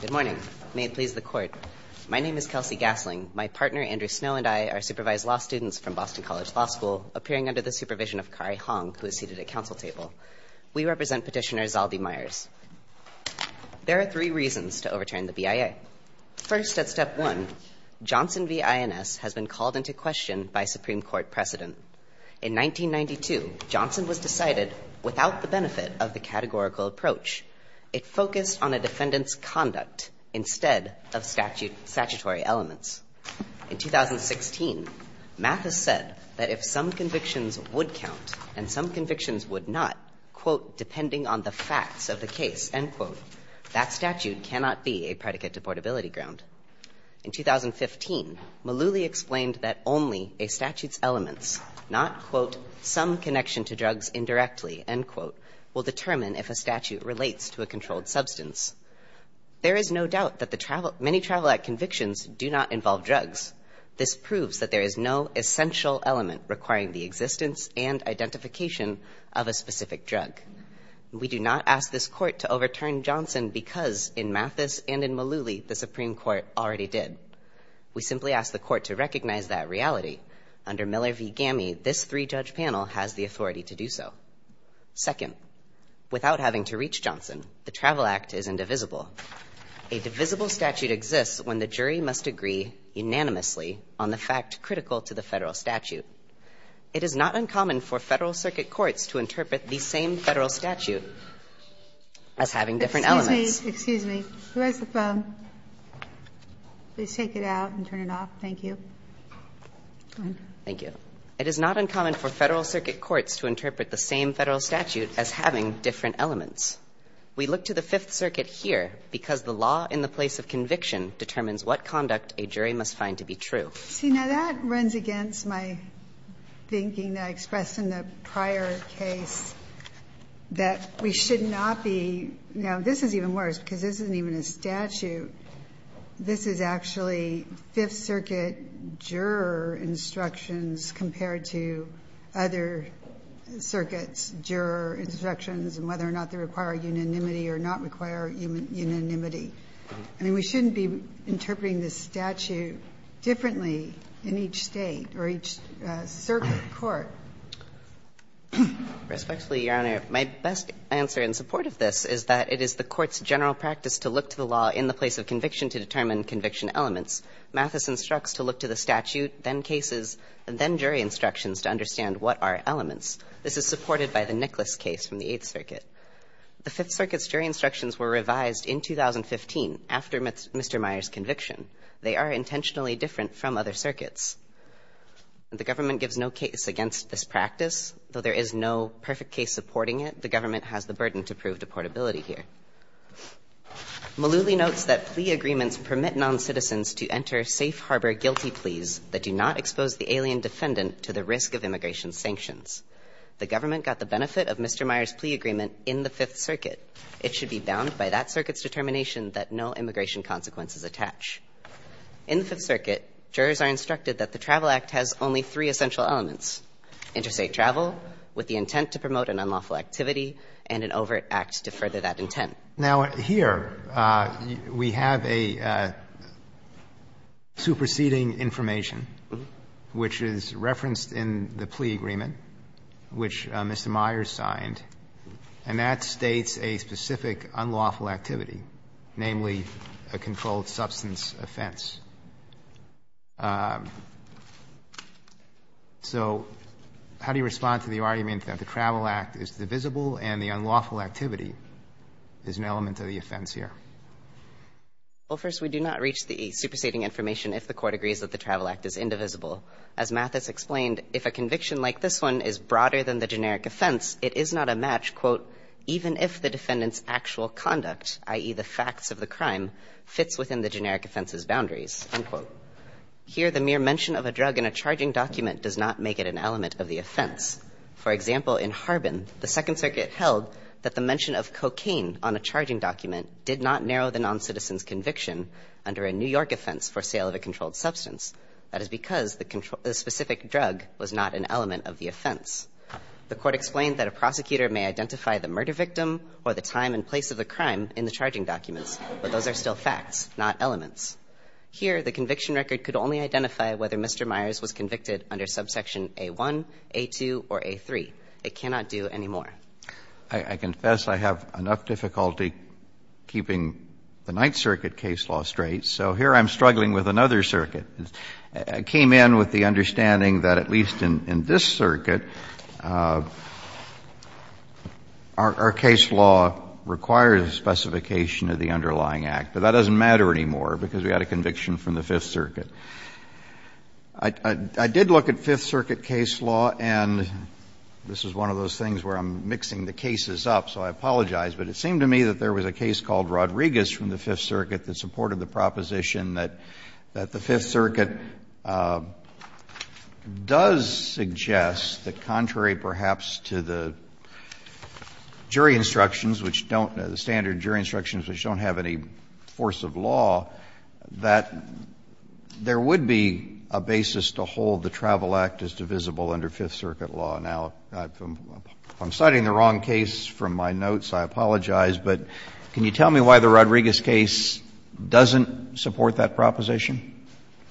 Good morning. May it please the court. My name is Kelsey Gasling. My partner, Andrew Snow, and I are supervised law students from Boston College Law School, appearing under the supervision of Kari Hong, who is seated at council table. We represent petitioner Zaldy Myers. There are three reasons to overturn the BIA. First, at step one, Johnson v. INS has been called into question by Supreme Court precedent. In 1992, Johnson was decided without the benefit of the categorical approach. It focused on a defendant's conduct instead of statutory elements. In 2016, Mathis said that if some convictions would count and some convictions would not, quote, depending on the facts of the case, end quote, that statute cannot be a predicate to portability ground. In 2015, Malooly explained that only a statute's elements, not, quote, some connection to drugs indirectly, end quote, will determine if a statute relates to a controlled substance. There is no doubt that many travel act convictions do not involve drugs. This proves that there is no essential element requiring the existence and identification of a specific drug. We do not ask this court to overturn Johnson because, in Mathis and in Malooly, the Supreme Court already did. We simply ask the court to recognize that reality. Under Miller v. Gammey, this three-judge panel has the authority to do so. Second, without having to reach Johnson, the Travel Act is indivisible. A divisible statute exists when the jury must agree unanimously on the fact critical to the federal statute. It is not uncommon for Federal Circuit courts to interpret the same Federal statute as having different elements. Ginsburg-Massey, excuse me. Who has the phone? Please take it out and turn it off. Thank you. Thank you. It is not uncommon for Federal Circuit courts to interpret the same Federal statute as having different elements. We look to the Fifth Circuit here because the law in the place of conviction determines what conduct a jury must find to be true. See, now that runs against my thinking that I expressed in the prior case that we should not be – now, this is even worse because this isn't even a statute. This is actually Fifth Circuit juror instructions compared to other circuits' juror instructions and whether or not they require unanimity or not require unanimity. I mean, we shouldn't be interpreting this statute differently in each State or each circuit court. Respectfully, Your Honor, my best answer in support of this is that it is the Court's general practice to look to the law in the place of conviction to determine conviction elements. Mathis instructs to look to the statute, then cases, and then jury instructions to understand what are elements. This is supported by the Nicholas case from the Eighth Circuit. The Fifth Circuit's jury instructions were revised in 2015 after Mr. Meyer's conviction. They are intentionally different from other circuits. The government gives no case against this practice. Though there is no perfect case supporting it, the government has the burden to prove deportability here. Malooly notes that plea agreements permit noncitizens to enter safe harbor guilty pleas that do not expose the alien defendant to the risk of immigration sanctions. The government got the benefit of Mr. Meyer's plea agreement in the Fifth Circuit. It should be bound by that circuit's determination that no immigration consequences attach. In the Fifth Circuit, jurors are instructed that the Travel Act has only three essential elements, interstate travel, with the intent to promote an unlawful activity, and an overt act to further that intent. Now, here we have a superseding information, which is referenced in the plea agreement. Which Mr. Meyer signed, and that states a specific unlawful activity, namely a controlled substance offense. So how do you respond to the argument that the Travel Act is divisible and the unlawful activity is an element of the offense here? Well, first, we do not reach the superseding information if the Court agrees that the Travel Act is indivisible. As Mathis explained, if a conviction like this one is broader than the generic offense, it is not a match, quote, even if the defendant's actual conduct, i.e., the facts of the crime, fits within the generic offense's boundaries, unquote. Here, the mere mention of a drug in a charging document does not make it an element of the offense. For example, in Harbin, the Second Circuit held that the mention of cocaine on a charging document did not narrow the noncitizen's conviction under a New York offense for sale of a controlled substance. That is because the specific drug was not an element of the offense. The Court explained that a prosecutor may identify the murder victim or the time and place of the crime in the charging documents, but those are still facts, not elements. Here, the conviction record could only identify whether Mr. Myers was convicted under subsection A-1, A-2, or A-3. It cannot do any more. I confess I have enough difficulty keeping the Ninth Circuit case law straight, so here I'm struggling with another circuit. I came in with the understanding that, at least in this circuit, our case law requires a specification of the underlying act, but that doesn't matter anymore because we had a conviction from the Fifth Circuit. I did look at Fifth Circuit case law, and this is one of those things where I'm mixing the cases up, so I apologize, but it seemed to me that there was a case called The Fifth Circuit does suggest that contrary, perhaps, to the jury instructions which don't, the standard jury instructions which don't have any force of law, that there would be a basis to hold the Travel Act as divisible under Fifth Circuit law. Now, if I'm citing the wrong case from my notes, I apologize, but can you tell me why the Rodriguez case doesn't support that proposition?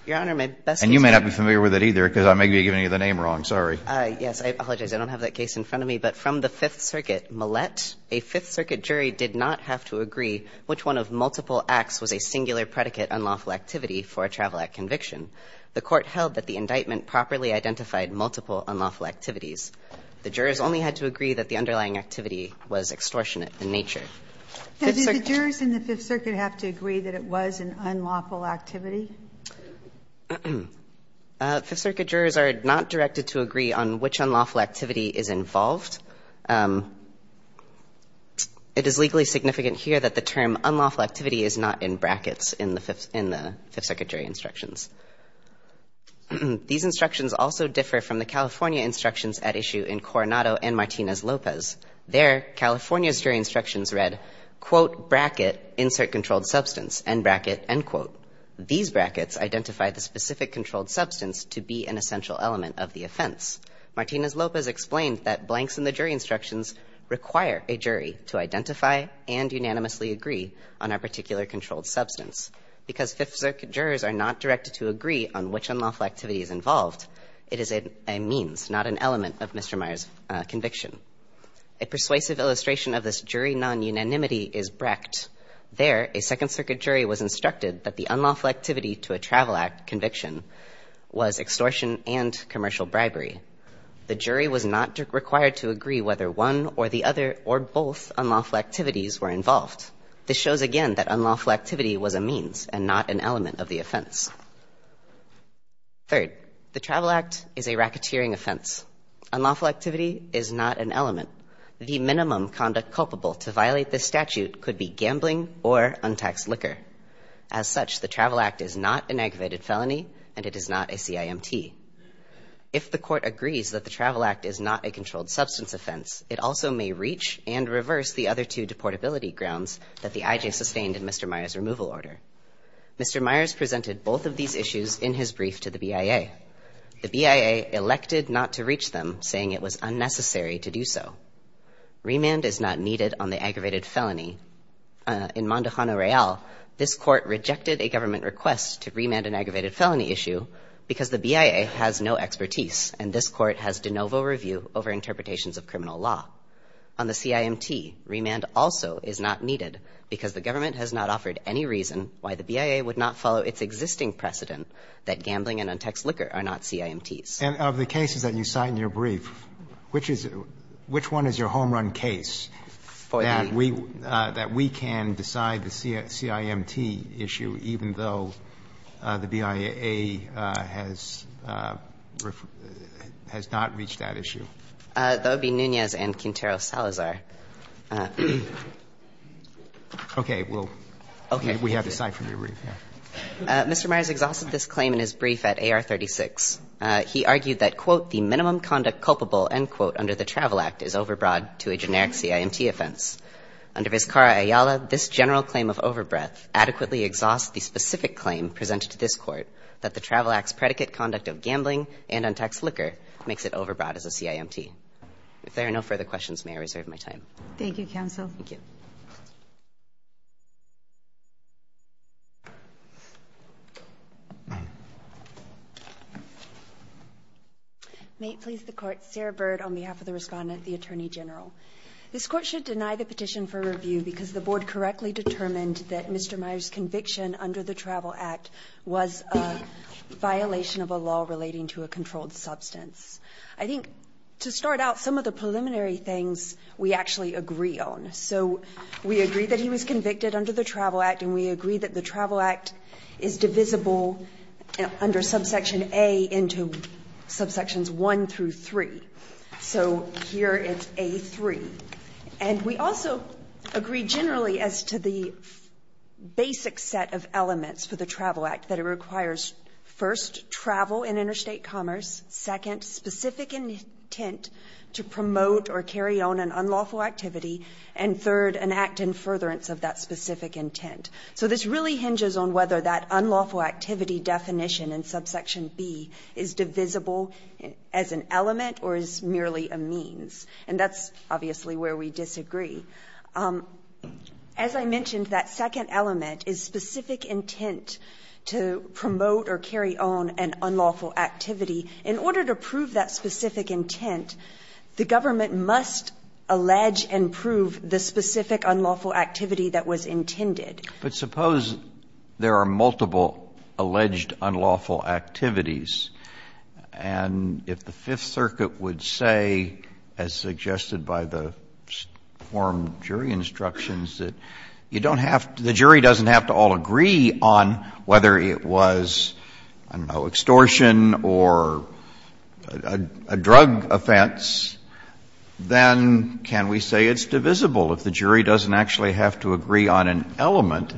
Your Honor, my best concern is that I don't have that case in front of me, but from the Fifth Circuit, Millett, a Fifth Circuit jury did not have to agree which one of multiple acts was a singular predicate unlawful activity for a Travel Act conviction. The court held that the indictment properly identified multiple unlawful activities. The jurors only had to agree that the underlying activity was extortionate in nature. Does the jurors in the Fifth Circuit have to agree that it was an unlawful activity? Fifth Circuit jurors are not directed to agree on which unlawful activity is involved. It is legally significant here that the term unlawful activity is not in brackets in the Fifth Circuit jury instructions. These instructions also differ from the California instructions at issue in Coronado and Martinez-Lopez. There, California's jury instructions read, quote, bracket, insert controlled substance, end bracket, end quote. These brackets identify the specific controlled substance to be an essential element of the offense. Martinez-Lopez explained that blanks in the jury instructions require a jury to identify and unanimously agree on a particular controlled substance. Because Fifth Circuit jurors are not directed to agree on which unlawful activity is A persuasive illustration of this jury non-unanimity is Brecht. There, a Second Circuit jury was instructed that the unlawful activity to a travel act conviction was extortion and commercial bribery. The jury was not required to agree whether one or the other or both unlawful activities were involved. This shows again that unlawful activity was a means and not an element of the offense. Third, the travel act is a racketeering offense. Unlawful activity is not an element. The minimum conduct culpable to violate this statute could be gambling or untaxed liquor. As such, the travel act is not an aggravated felony and it is not a CIMT. If the court agrees that the travel act is not a controlled substance offense, it also may reach and reverse the other two deportability grounds that the IJ sustained in Mr. Myers' removal order. Mr. Myers presented both of these issues in his brief to the BIA. The BIA elected not to reach them, saying it was unnecessary to do so. Remand is not needed on the aggravated felony. In Mondo Jano Real, this court rejected a government request to remand an aggravated felony issue because the BIA has no expertise and this court has de novo review over interpretations of criminal law. On the CIMT, remand also is not needed because the government has not offered any reason why the BIA would not follow its existing precedent that gambling and untaxed liquor are not CIMTs. And of the cases that you cite in your brief, which is — which one is your home-run case that we — that we can decide the CIMT issue even though the BIA has not reached that issue? That would be Nunez and Quintero Salazar. Okay. We'll — Okay. We have the cite from your brief, yeah. Mr. Myers exhausted this claim in his brief at AR-36. He argued that, quote, the minimum conduct culpable, end quote, under the Travel Act is overbroad to a generic CIMT offense. Under Vizcara-Ayala, this general claim of overbreath adequately exhausts the specific claim presented to this court that the Travel Act's predicate conduct of gambling and untaxed liquor makes it overbroad as a CIMT. If there are no further questions, may I reserve my time? Thank you, Counsel. Thank you. May it please the Court, Sarah Bird on behalf of the respondent, the Attorney General. This Court should deny the petition for review because the Board correctly determined that Mr. Myers' conviction under the Travel Act was a violation of a law relating to a controlled substance. I think to start out, some of the preliminary things we actually agree on. So we agree that he was convicted under the Travel Act, and we agree that the Travel Act is divisible under subsection A into subsections 1 through 3. So here it's A3. And we also agree generally as to the basic set of elements for the Travel Act that it intent to promote or carry on an unlawful activity, and third, an act in furtherance of that specific intent. So this really hinges on whether that unlawful activity definition in subsection B is divisible as an element or as merely a means. And that's obviously where we disagree. As I mentioned, that second element is specific intent to promote or carry on an unlawful activity. In order to prove that specific intent, the government must allege and prove the specific unlawful activity that was intended. But suppose there are multiple alleged unlawful activities, and if the Fifth Circuit would say, as suggested by the forum jury instructions, that you don't have to — the jury doesn't have to agree on one or a drug offense, then can we say it's divisible if the jury doesn't actually have to agree on an element,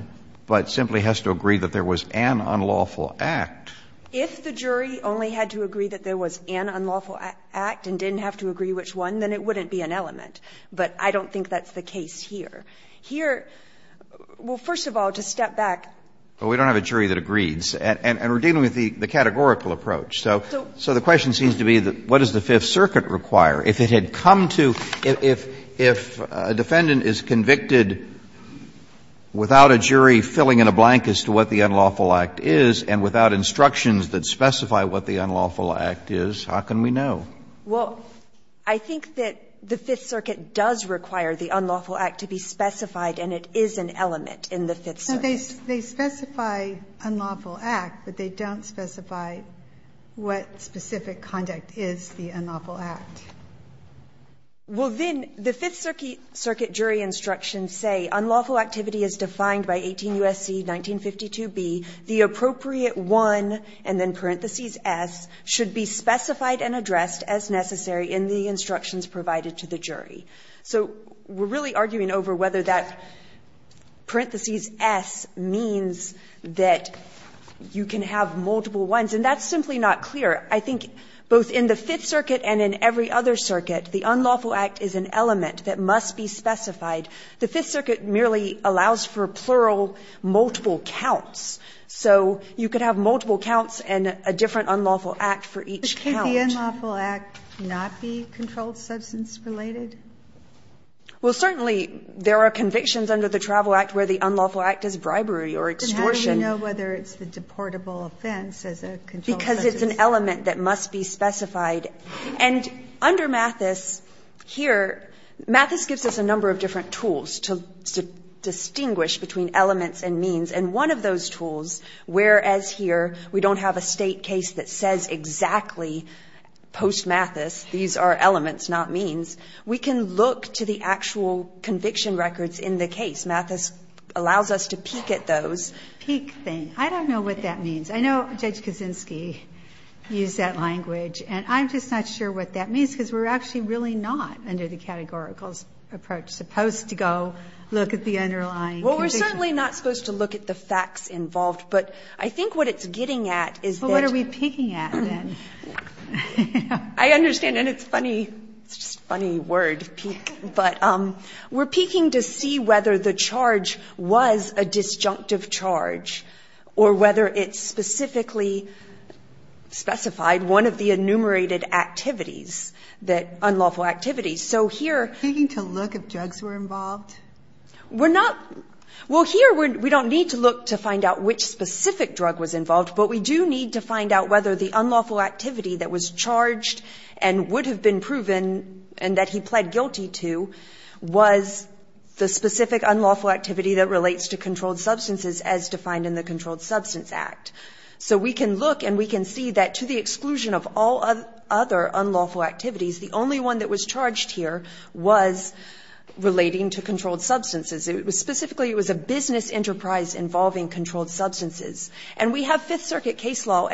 but simply has to agree that there was an unlawful act? If the jury only had to agree that there was an unlawful act and didn't have to agree which one, then it wouldn't be an element. But I don't think that's the case here. Here — well, first of all, to step back. But we don't have a jury that agrees. And we're dealing with the categorical approach. So the question seems to be, what does the Fifth Circuit require? If it had come to — if a defendant is convicted without a jury filling in a blank as to what the unlawful act is and without instructions that specify what the unlawful act is, how can we know? Well, I think that the Fifth Circuit does require the unlawful act to be specified, and it is an element in the Fifth Circuit. They specify unlawful act, but they don't specify what specific conduct is the unlawful act. Well, then, the Fifth Circuit jury instructions say, unlawful activity is defined by 18 U.S.C. 1952b. The appropriate one, and then parentheses S, should be specified and addressed as necessary in the instructions provided to the jury. So we're really arguing over whether that parentheses S means that you can have multiple ones. And that's simply not clear. I think both in the Fifth Circuit and in every other circuit, the unlawful act is an element that must be specified. The Fifth Circuit merely allows for plural multiple counts. So you could have multiple counts and a different unlawful act for each count. But could the unlawful act not be controlled substance-related? Well, certainly, there are convictions under the Travel Act where the unlawful act is bribery or extortion. But how do you know whether it's the deportable offense as a controlled substance? Because it's an element that must be specified. And under Mathis, here, Mathis gives us a number of different tools to distinguish between elements and means. And one of those tools, whereas here we don't have a State case that says exactly post-Mathis, these are elements, not means, we can look to the actual conviction records in the case. Mathis allows us to peek at those. Peek thing. I don't know what that means. I know Judge Kaczynski used that language. And I'm just not sure what that means, because we're actually really not, under the categorical approach, supposed to go look at the underlying conviction. Well, we're certainly not supposed to look at the facts involved. I understand. And it's funny, it's just a funny word, peek. But we're peeking to see whether the charge was a disjunctive charge, or whether it specifically specified one of the enumerated activities, unlawful activities. So here... Peeking to look if drugs were involved? We're not... Well, here, we don't need to look to find out which specific drug was involved, but we do need to find out whether the unlawful activity that was charged, and would have been proven, and that he pled guilty to, was the specific unlawful activity that relates to controlled substances as defined in the Controlled Substance Act. So we can look, and we can see that to the exclusion of all other unlawful activities, the only one that was charged here was relating to controlled substances. It was specifically, it was a business enterprise involving controlled substances. And we have Fifth Circuit case law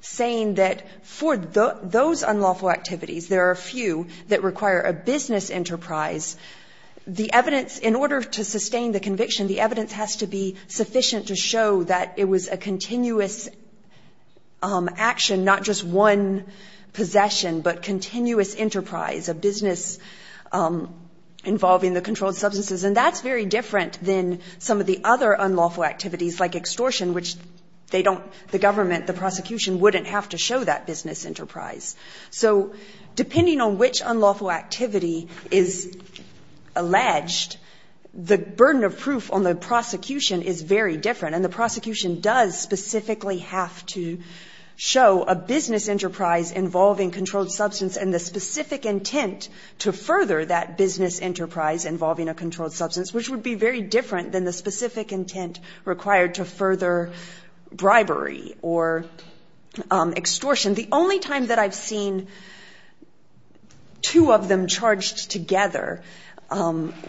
saying that for those unlawful activities, there are few that require a business enterprise. The evidence, in order to sustain the conviction, the evidence has to be sufficient to show that it was a continuous action, not just one possession, but continuous enterprise, a business involving the controlled substances. And that's very different than some of the other unlawful activities, like extortion, which they don't, the government, the prosecution wouldn't have to show that business enterprise. So depending on which unlawful activity is alleged, the burden of proof on the prosecution is very different. And the prosecution does specifically have to show a business enterprise involving controlled substance and the specific intent to further that business enterprise involving a controlled substance, which would be very different than the specific intent required to further bribery or extortion. The only time that I've seen two of them charged together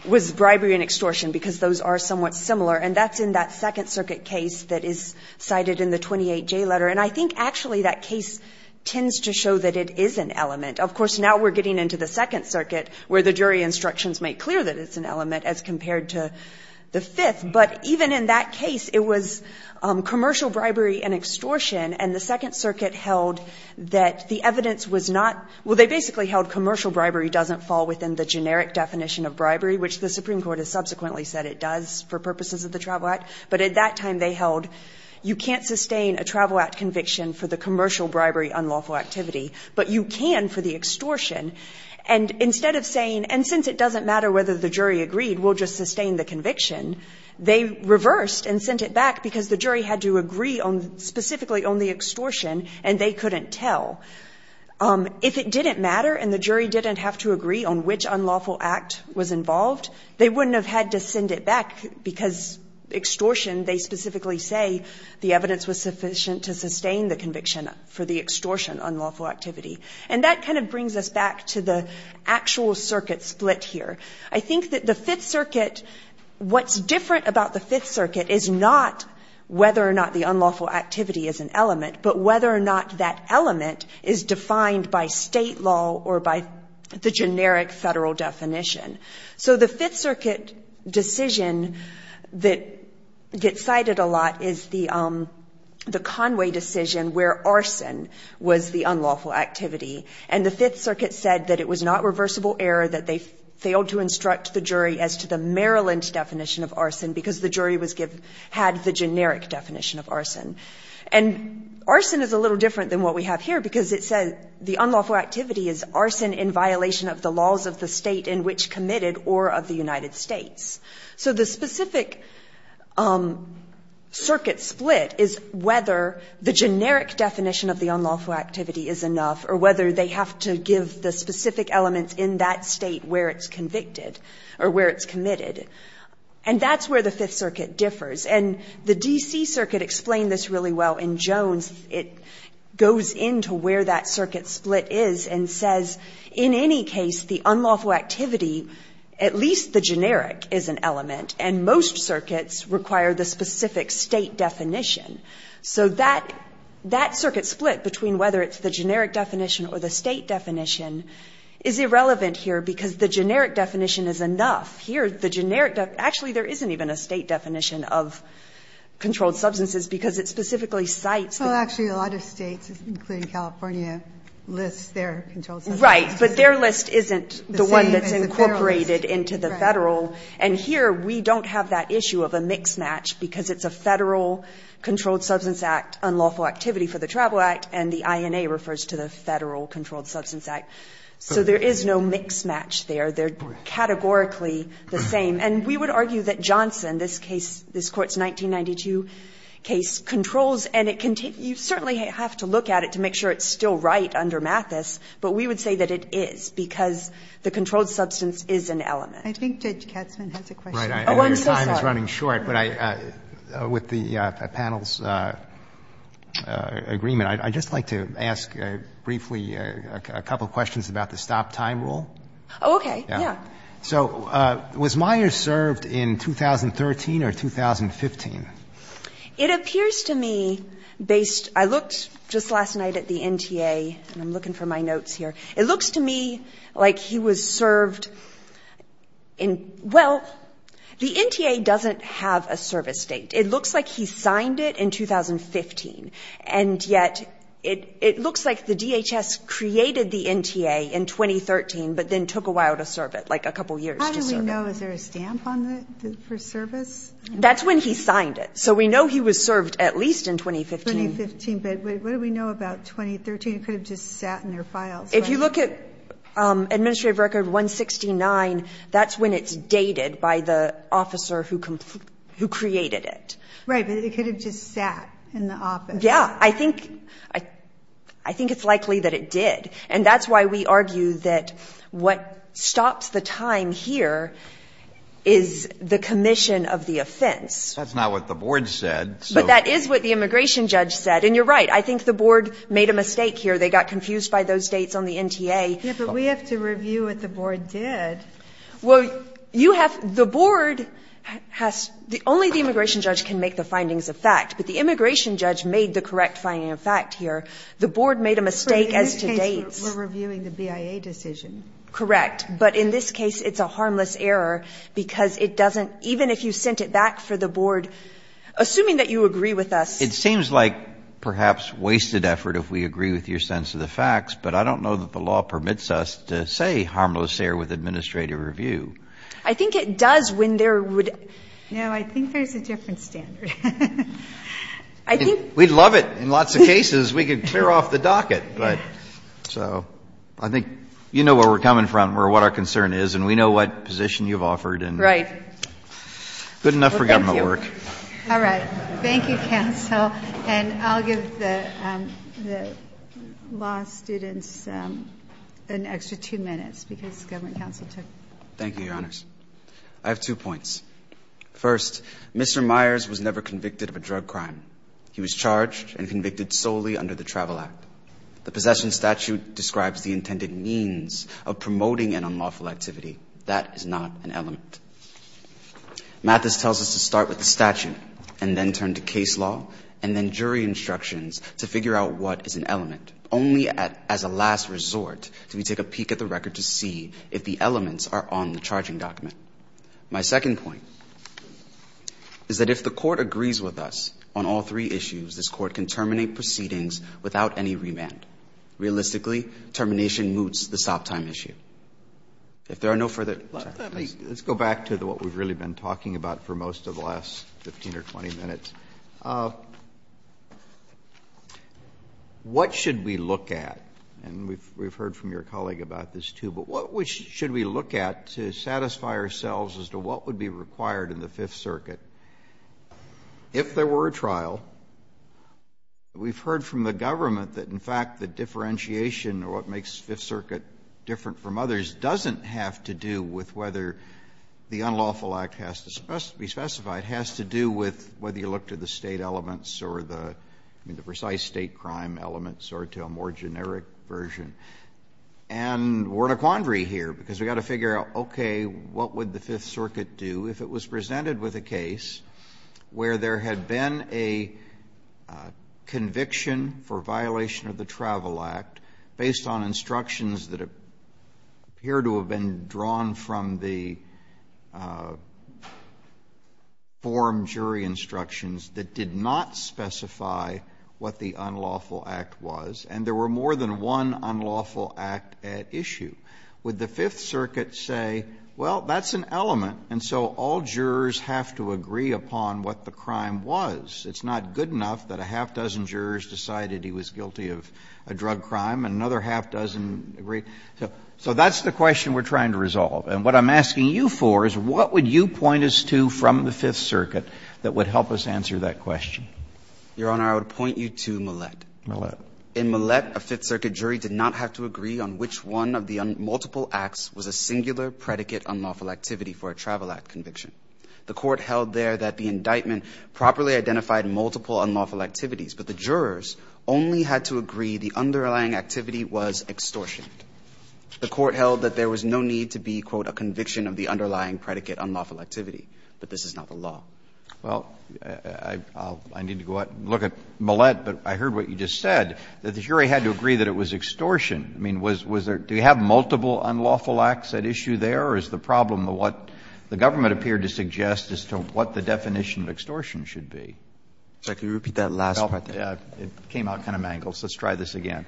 was bribery and extortion because those are somewhat similar. And that's in that Second Circuit case that is cited in the 28J letter. And I think actually that case tends to show that it is an element. Of course, now we're getting into the Second Circuit where the jury instructions make clear that it's an element as compared to the Fifth. But even in that case, it was commercial bribery and extortion. And the Second Circuit held that the evidence was not — well, they basically held commercial bribery doesn't fall within the generic definition of bribery, which the Supreme Court has subsequently said it does for purposes of the Travel Act. But at that time they held you can't sustain a Travel Act conviction for the commercial bribery unlawful activity, but you can for the extortion. And instead of saying, and since it doesn't matter whether the jury agreed, we'll just sustain the conviction, they reversed and sent it back because the jury had to agree on specifically on the extortion and they couldn't tell. If it didn't matter and the jury didn't have to agree on which unlawful act was involved, they wouldn't have had to send it back because extortion, they specifically say, the evidence was sufficient to sustain the conviction for the extortion unlawful activity. And that kind of brings us back to the actual circuit split here. I think that the Fifth Circuit, what's different about the Fifth Circuit is not whether or not the unlawful activity is an element, but whether or not that element is defined by state law or by the generic federal definition. So the Fifth Circuit decision that gets cited a lot is the Conway decision where the unlawful activity and the Fifth Circuit said that it was not reversible error that they failed to instruct the jury as to the Maryland definition of arson because the jury was given, had the generic definition of arson. And arson is a little different than what we have here because it says the unlawful activity is arson in violation of the laws of the state in which committed or of the United States. So the specific circuit split is whether the generic definition of the unlawful activity is enough or whether they have to give the specific elements in that state where it's convicted or where it's committed. And that's where the Fifth Circuit differs. And the D.C. Circuit explained this really well in Jones. It goes into where that circuit split is and says, in any case, the unlawful activity, at least the generic, is an element. And most circuits require the specific state definition. So that circuit split between whether it's the generic definition or the state definition is irrelevant here because the generic definition is enough. Here, the generic, actually, there isn't even a state definition of controlled substances because it specifically cites. Well, actually, a lot of states, including California, lists their controlled substances. Right. But their list isn't the one that's incorporated into the federal. And here, we don't have that issue of a mix match because it's a Federal Controlled Substance Act unlawful activity for the Travel Act and the INA refers to the Federal Controlled Substance Act. So there is no mix match there. They're categorically the same. And we would argue that Johnson, this case, this Court's 1992 case, controls and it can take you certainly have to look at it to make sure it's still right under Mathis. But we would say that it is because the controlled substance is an element. I think Judge Katzman has a question. Your time is running short. But with the panel's agreement, I'd just like to ask briefly a couple of questions about the stop time rule. Okay. Yeah. So was Myers served in 2013 or 2015? It appears to me based, I looked just last night at the NTA and I'm looking for my notes here. It looks to me like he was served in, well, the NTA doesn't have a service date. It looks like he signed it in 2015 and yet it looks like the DHS created the NTA in 2013 but then took a while to serve it, like a couple years to serve it. How do we know? Is there a stamp on it for service? That's when he signed it. So we know he was served at least in 2015. 2015. But what do we know about 2013? It could have just sat in their files. If you look at administrative record 169, that's when it's dated by the officer who created it. Right. But it could have just sat in the office. Yeah. I think it's likely that it did. And that's why we argue that what stops the time here is the commission of the offense. That's not what the board said. But that is what the immigration judge said. And you're right. I think the board made a mistake here. They got confused by those dates on the NTA. Yeah. But we have to review what the board did. Well, you have the board has the only the immigration judge can make the findings of fact. But the immigration judge made the correct finding of fact here. The board made a mistake as to dates. We're reviewing the BIA decision. Correct. But in this case, it's a harmless error because it doesn't even if you sent it back for the board, assuming that you agree with us. It seems like perhaps wasted effort if we agree with your sense of the facts. But I don't know that the law permits us to say harmless error with administrative review. I think it does when there would. No, I think there's a different standard. I think we'd love it in lots of cases. We could clear off the docket. But so I think you know where we're coming from or what our concern is. And we know what position you've offered and right. Good enough for government work. All right. Thank you, counsel. And I'll give the law students an extra two minutes because government counsel took. Thank you, Your Honors. I have two points. First, Mr. Myers was never convicted of a drug crime. He was charged and convicted solely under the Travel Act. The possession statute describes the intended means of promoting an unlawful activity. That is not an element. Mathis tells us to start with the statute and then turn to case law and then jury instructions to figure out what is an element. Only as a last resort do we take a peek at the record to see if the elements are on the charging document. My second point is that if the court agrees with us on all three issues, this court can terminate proceedings without any remand. Realistically, termination moots the stop time issue. If there are no further questions. Let's go back to what we've really been talking about for most of the last 15 or 20 minutes. What should we look at? And we've heard from your colleague about this, too. But what should we look at to satisfy ourselves as to what would be required in the Fifth Circuit? If there were a trial, we've heard from the government that, in fact, the differentiation or what makes Fifth Circuit different from others doesn't have to do with whether the unlawful act has to be specified. It has to do with whether you look to the State elements or the precise State crime elements or to a more generic version. And we're in a quandary here because we've got to figure out, okay, what would the Fifth Circuit do if it was presented with a case where there had been a conviction for violation of the Travel Act, based on instructions that appear to have been drawn from the forum jury instructions that did not specify what the unlawful act was, and there were more than one unlawful act at issue? Would the Fifth Circuit say, well, that's an element, and so all jurors have to agree upon what the crime was? It's not good enough that a half-dozen jurors decided he was guilty of a drug crime, and another half-dozen agreed? So that's the question we're trying to resolve. And what I'm asking you for is what would you point us to from the Fifth Circuit that would help us answer that question? Your Honor, I would point you to Millett. Millett. In Millett, a Fifth Circuit jury did not have to agree on which one of the multiple acts was a singular predicate unlawful activity for a Travel Act conviction. The Court held there that the indictment properly identified multiple unlawful activities, but the jurors only had to agree the underlying activity was extortion. The Court held that there was no need to be, quote, a conviction of the underlying predicate unlawful activity, but this is not the law. Well, I need to go out and look at Millett, but I heard what you just said, that the jury had to agree that it was extortion. I mean, was there – do you have multiple unlawful acts at issue there, or is the problem what the government appeared to suggest as to what the definition of extortion should be? Could you repeat that last part? It came out kind of mangled, so let's try this again.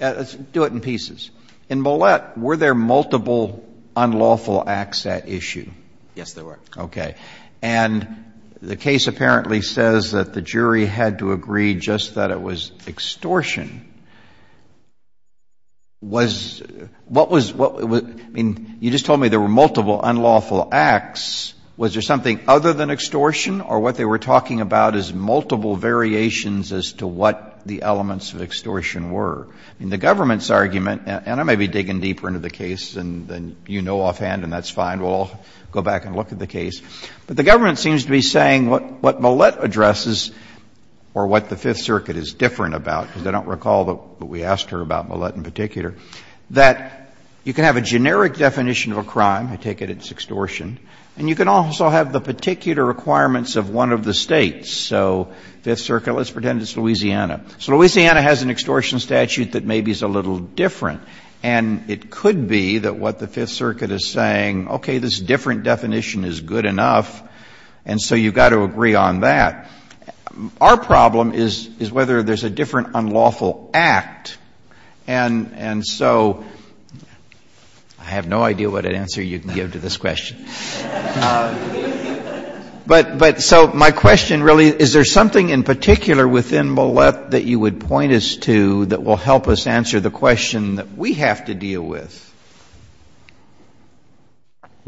Let's do it in pieces. In Millett, were there multiple unlawful acts at issue? Yes, there were. Okay. And the case apparently says that the jury had to agree just that it was extortion. Was – what was – I mean, you just told me there were multiple unlawful acts. Was there something other than extortion, or what they were talking about is multiple variations as to what the elements of extortion were? I mean, the government's argument – and I may be digging deeper into the case than you know offhand, and that's fine. We'll all go back and look at the case. But the government seems to be saying what Millett addresses, or what the Fifth Circuit is different about, because they don't recall what we asked her about Millett in particular, that you can have a generic definition of a crime. I take it it's extortion. And you can also have the particular requirements of one of the States. So Fifth Circuit, let's pretend it's Louisiana. So Louisiana has an extortion statute that maybe is a little different, and it could be that what the Fifth Circuit is saying, okay, this different definition is good enough, and so you've got to agree on that. Our problem is whether there's a different unlawful act. And so I have no idea what answer you can give to this question. But so my question really, is there something in particular within Millett that you would point us to that will help us answer the question that we have to deal with?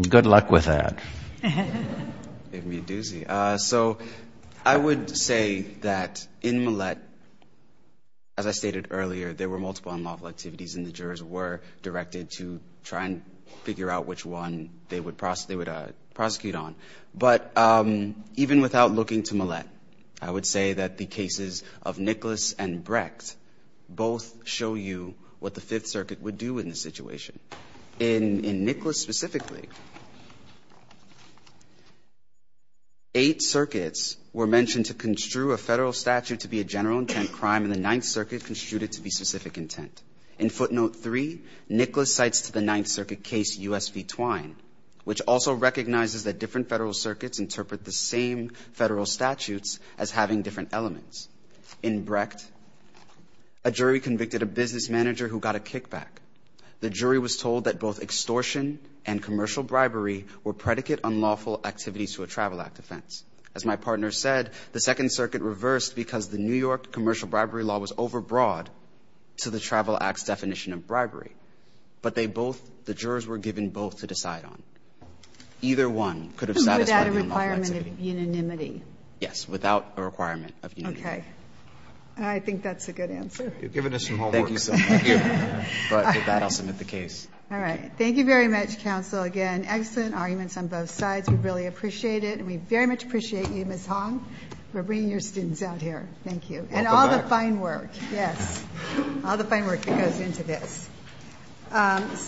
Good luck with that. Give me a doozy. So I would say that in Millett, as I stated earlier, there were multiple unlawful activities, and the jurors were directed to try and figure out which one they would prosecute on. But even without looking to Millett, I would say that the cases of Nicholas and Brecht both show you what the Fifth Circuit would do in this situation. In Nicholas specifically, eight circuits were mentioned to construe a federal statute to be a general intent crime, and the Ninth Circuit construed it to be specific intent. In Footnote 3, Nicholas cites to the Ninth Circuit case U.S. v. Twine, which also recognizes that different federal circuits interpret the same federal statutes as having different elements. In Brecht, a jury convicted a business manager who got a kickback. The jury was told that both extortion and commercial bribery were predicate unlawful activities to a Travel Act offense. As my partner said, the Second Circuit reversed because the New York commercial bribery law was overbroad to the Travel Act's definition of bribery. But they both, the jurors were given both to decide on. Either one could have satisfied the unlawful activity. Without a requirement of unanimity. Yes, without a requirement of unanimity. Okay. I think that's a good answer. You've given us some homework. Thank you, sir. Thank you. But with that, I'll submit the case. All right. Thank you very much, counsel. Again, excellent arguments on both sides. We really appreciate it. And we very much appreciate you, Ms. Hong, for bringing your students out here. Thank you. And all the fine work. Yes. All the fine work that goes into this.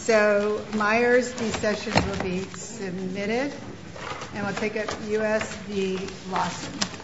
So, Myers, these sessions will be submitted. And we'll take up U.S. v. Lawson.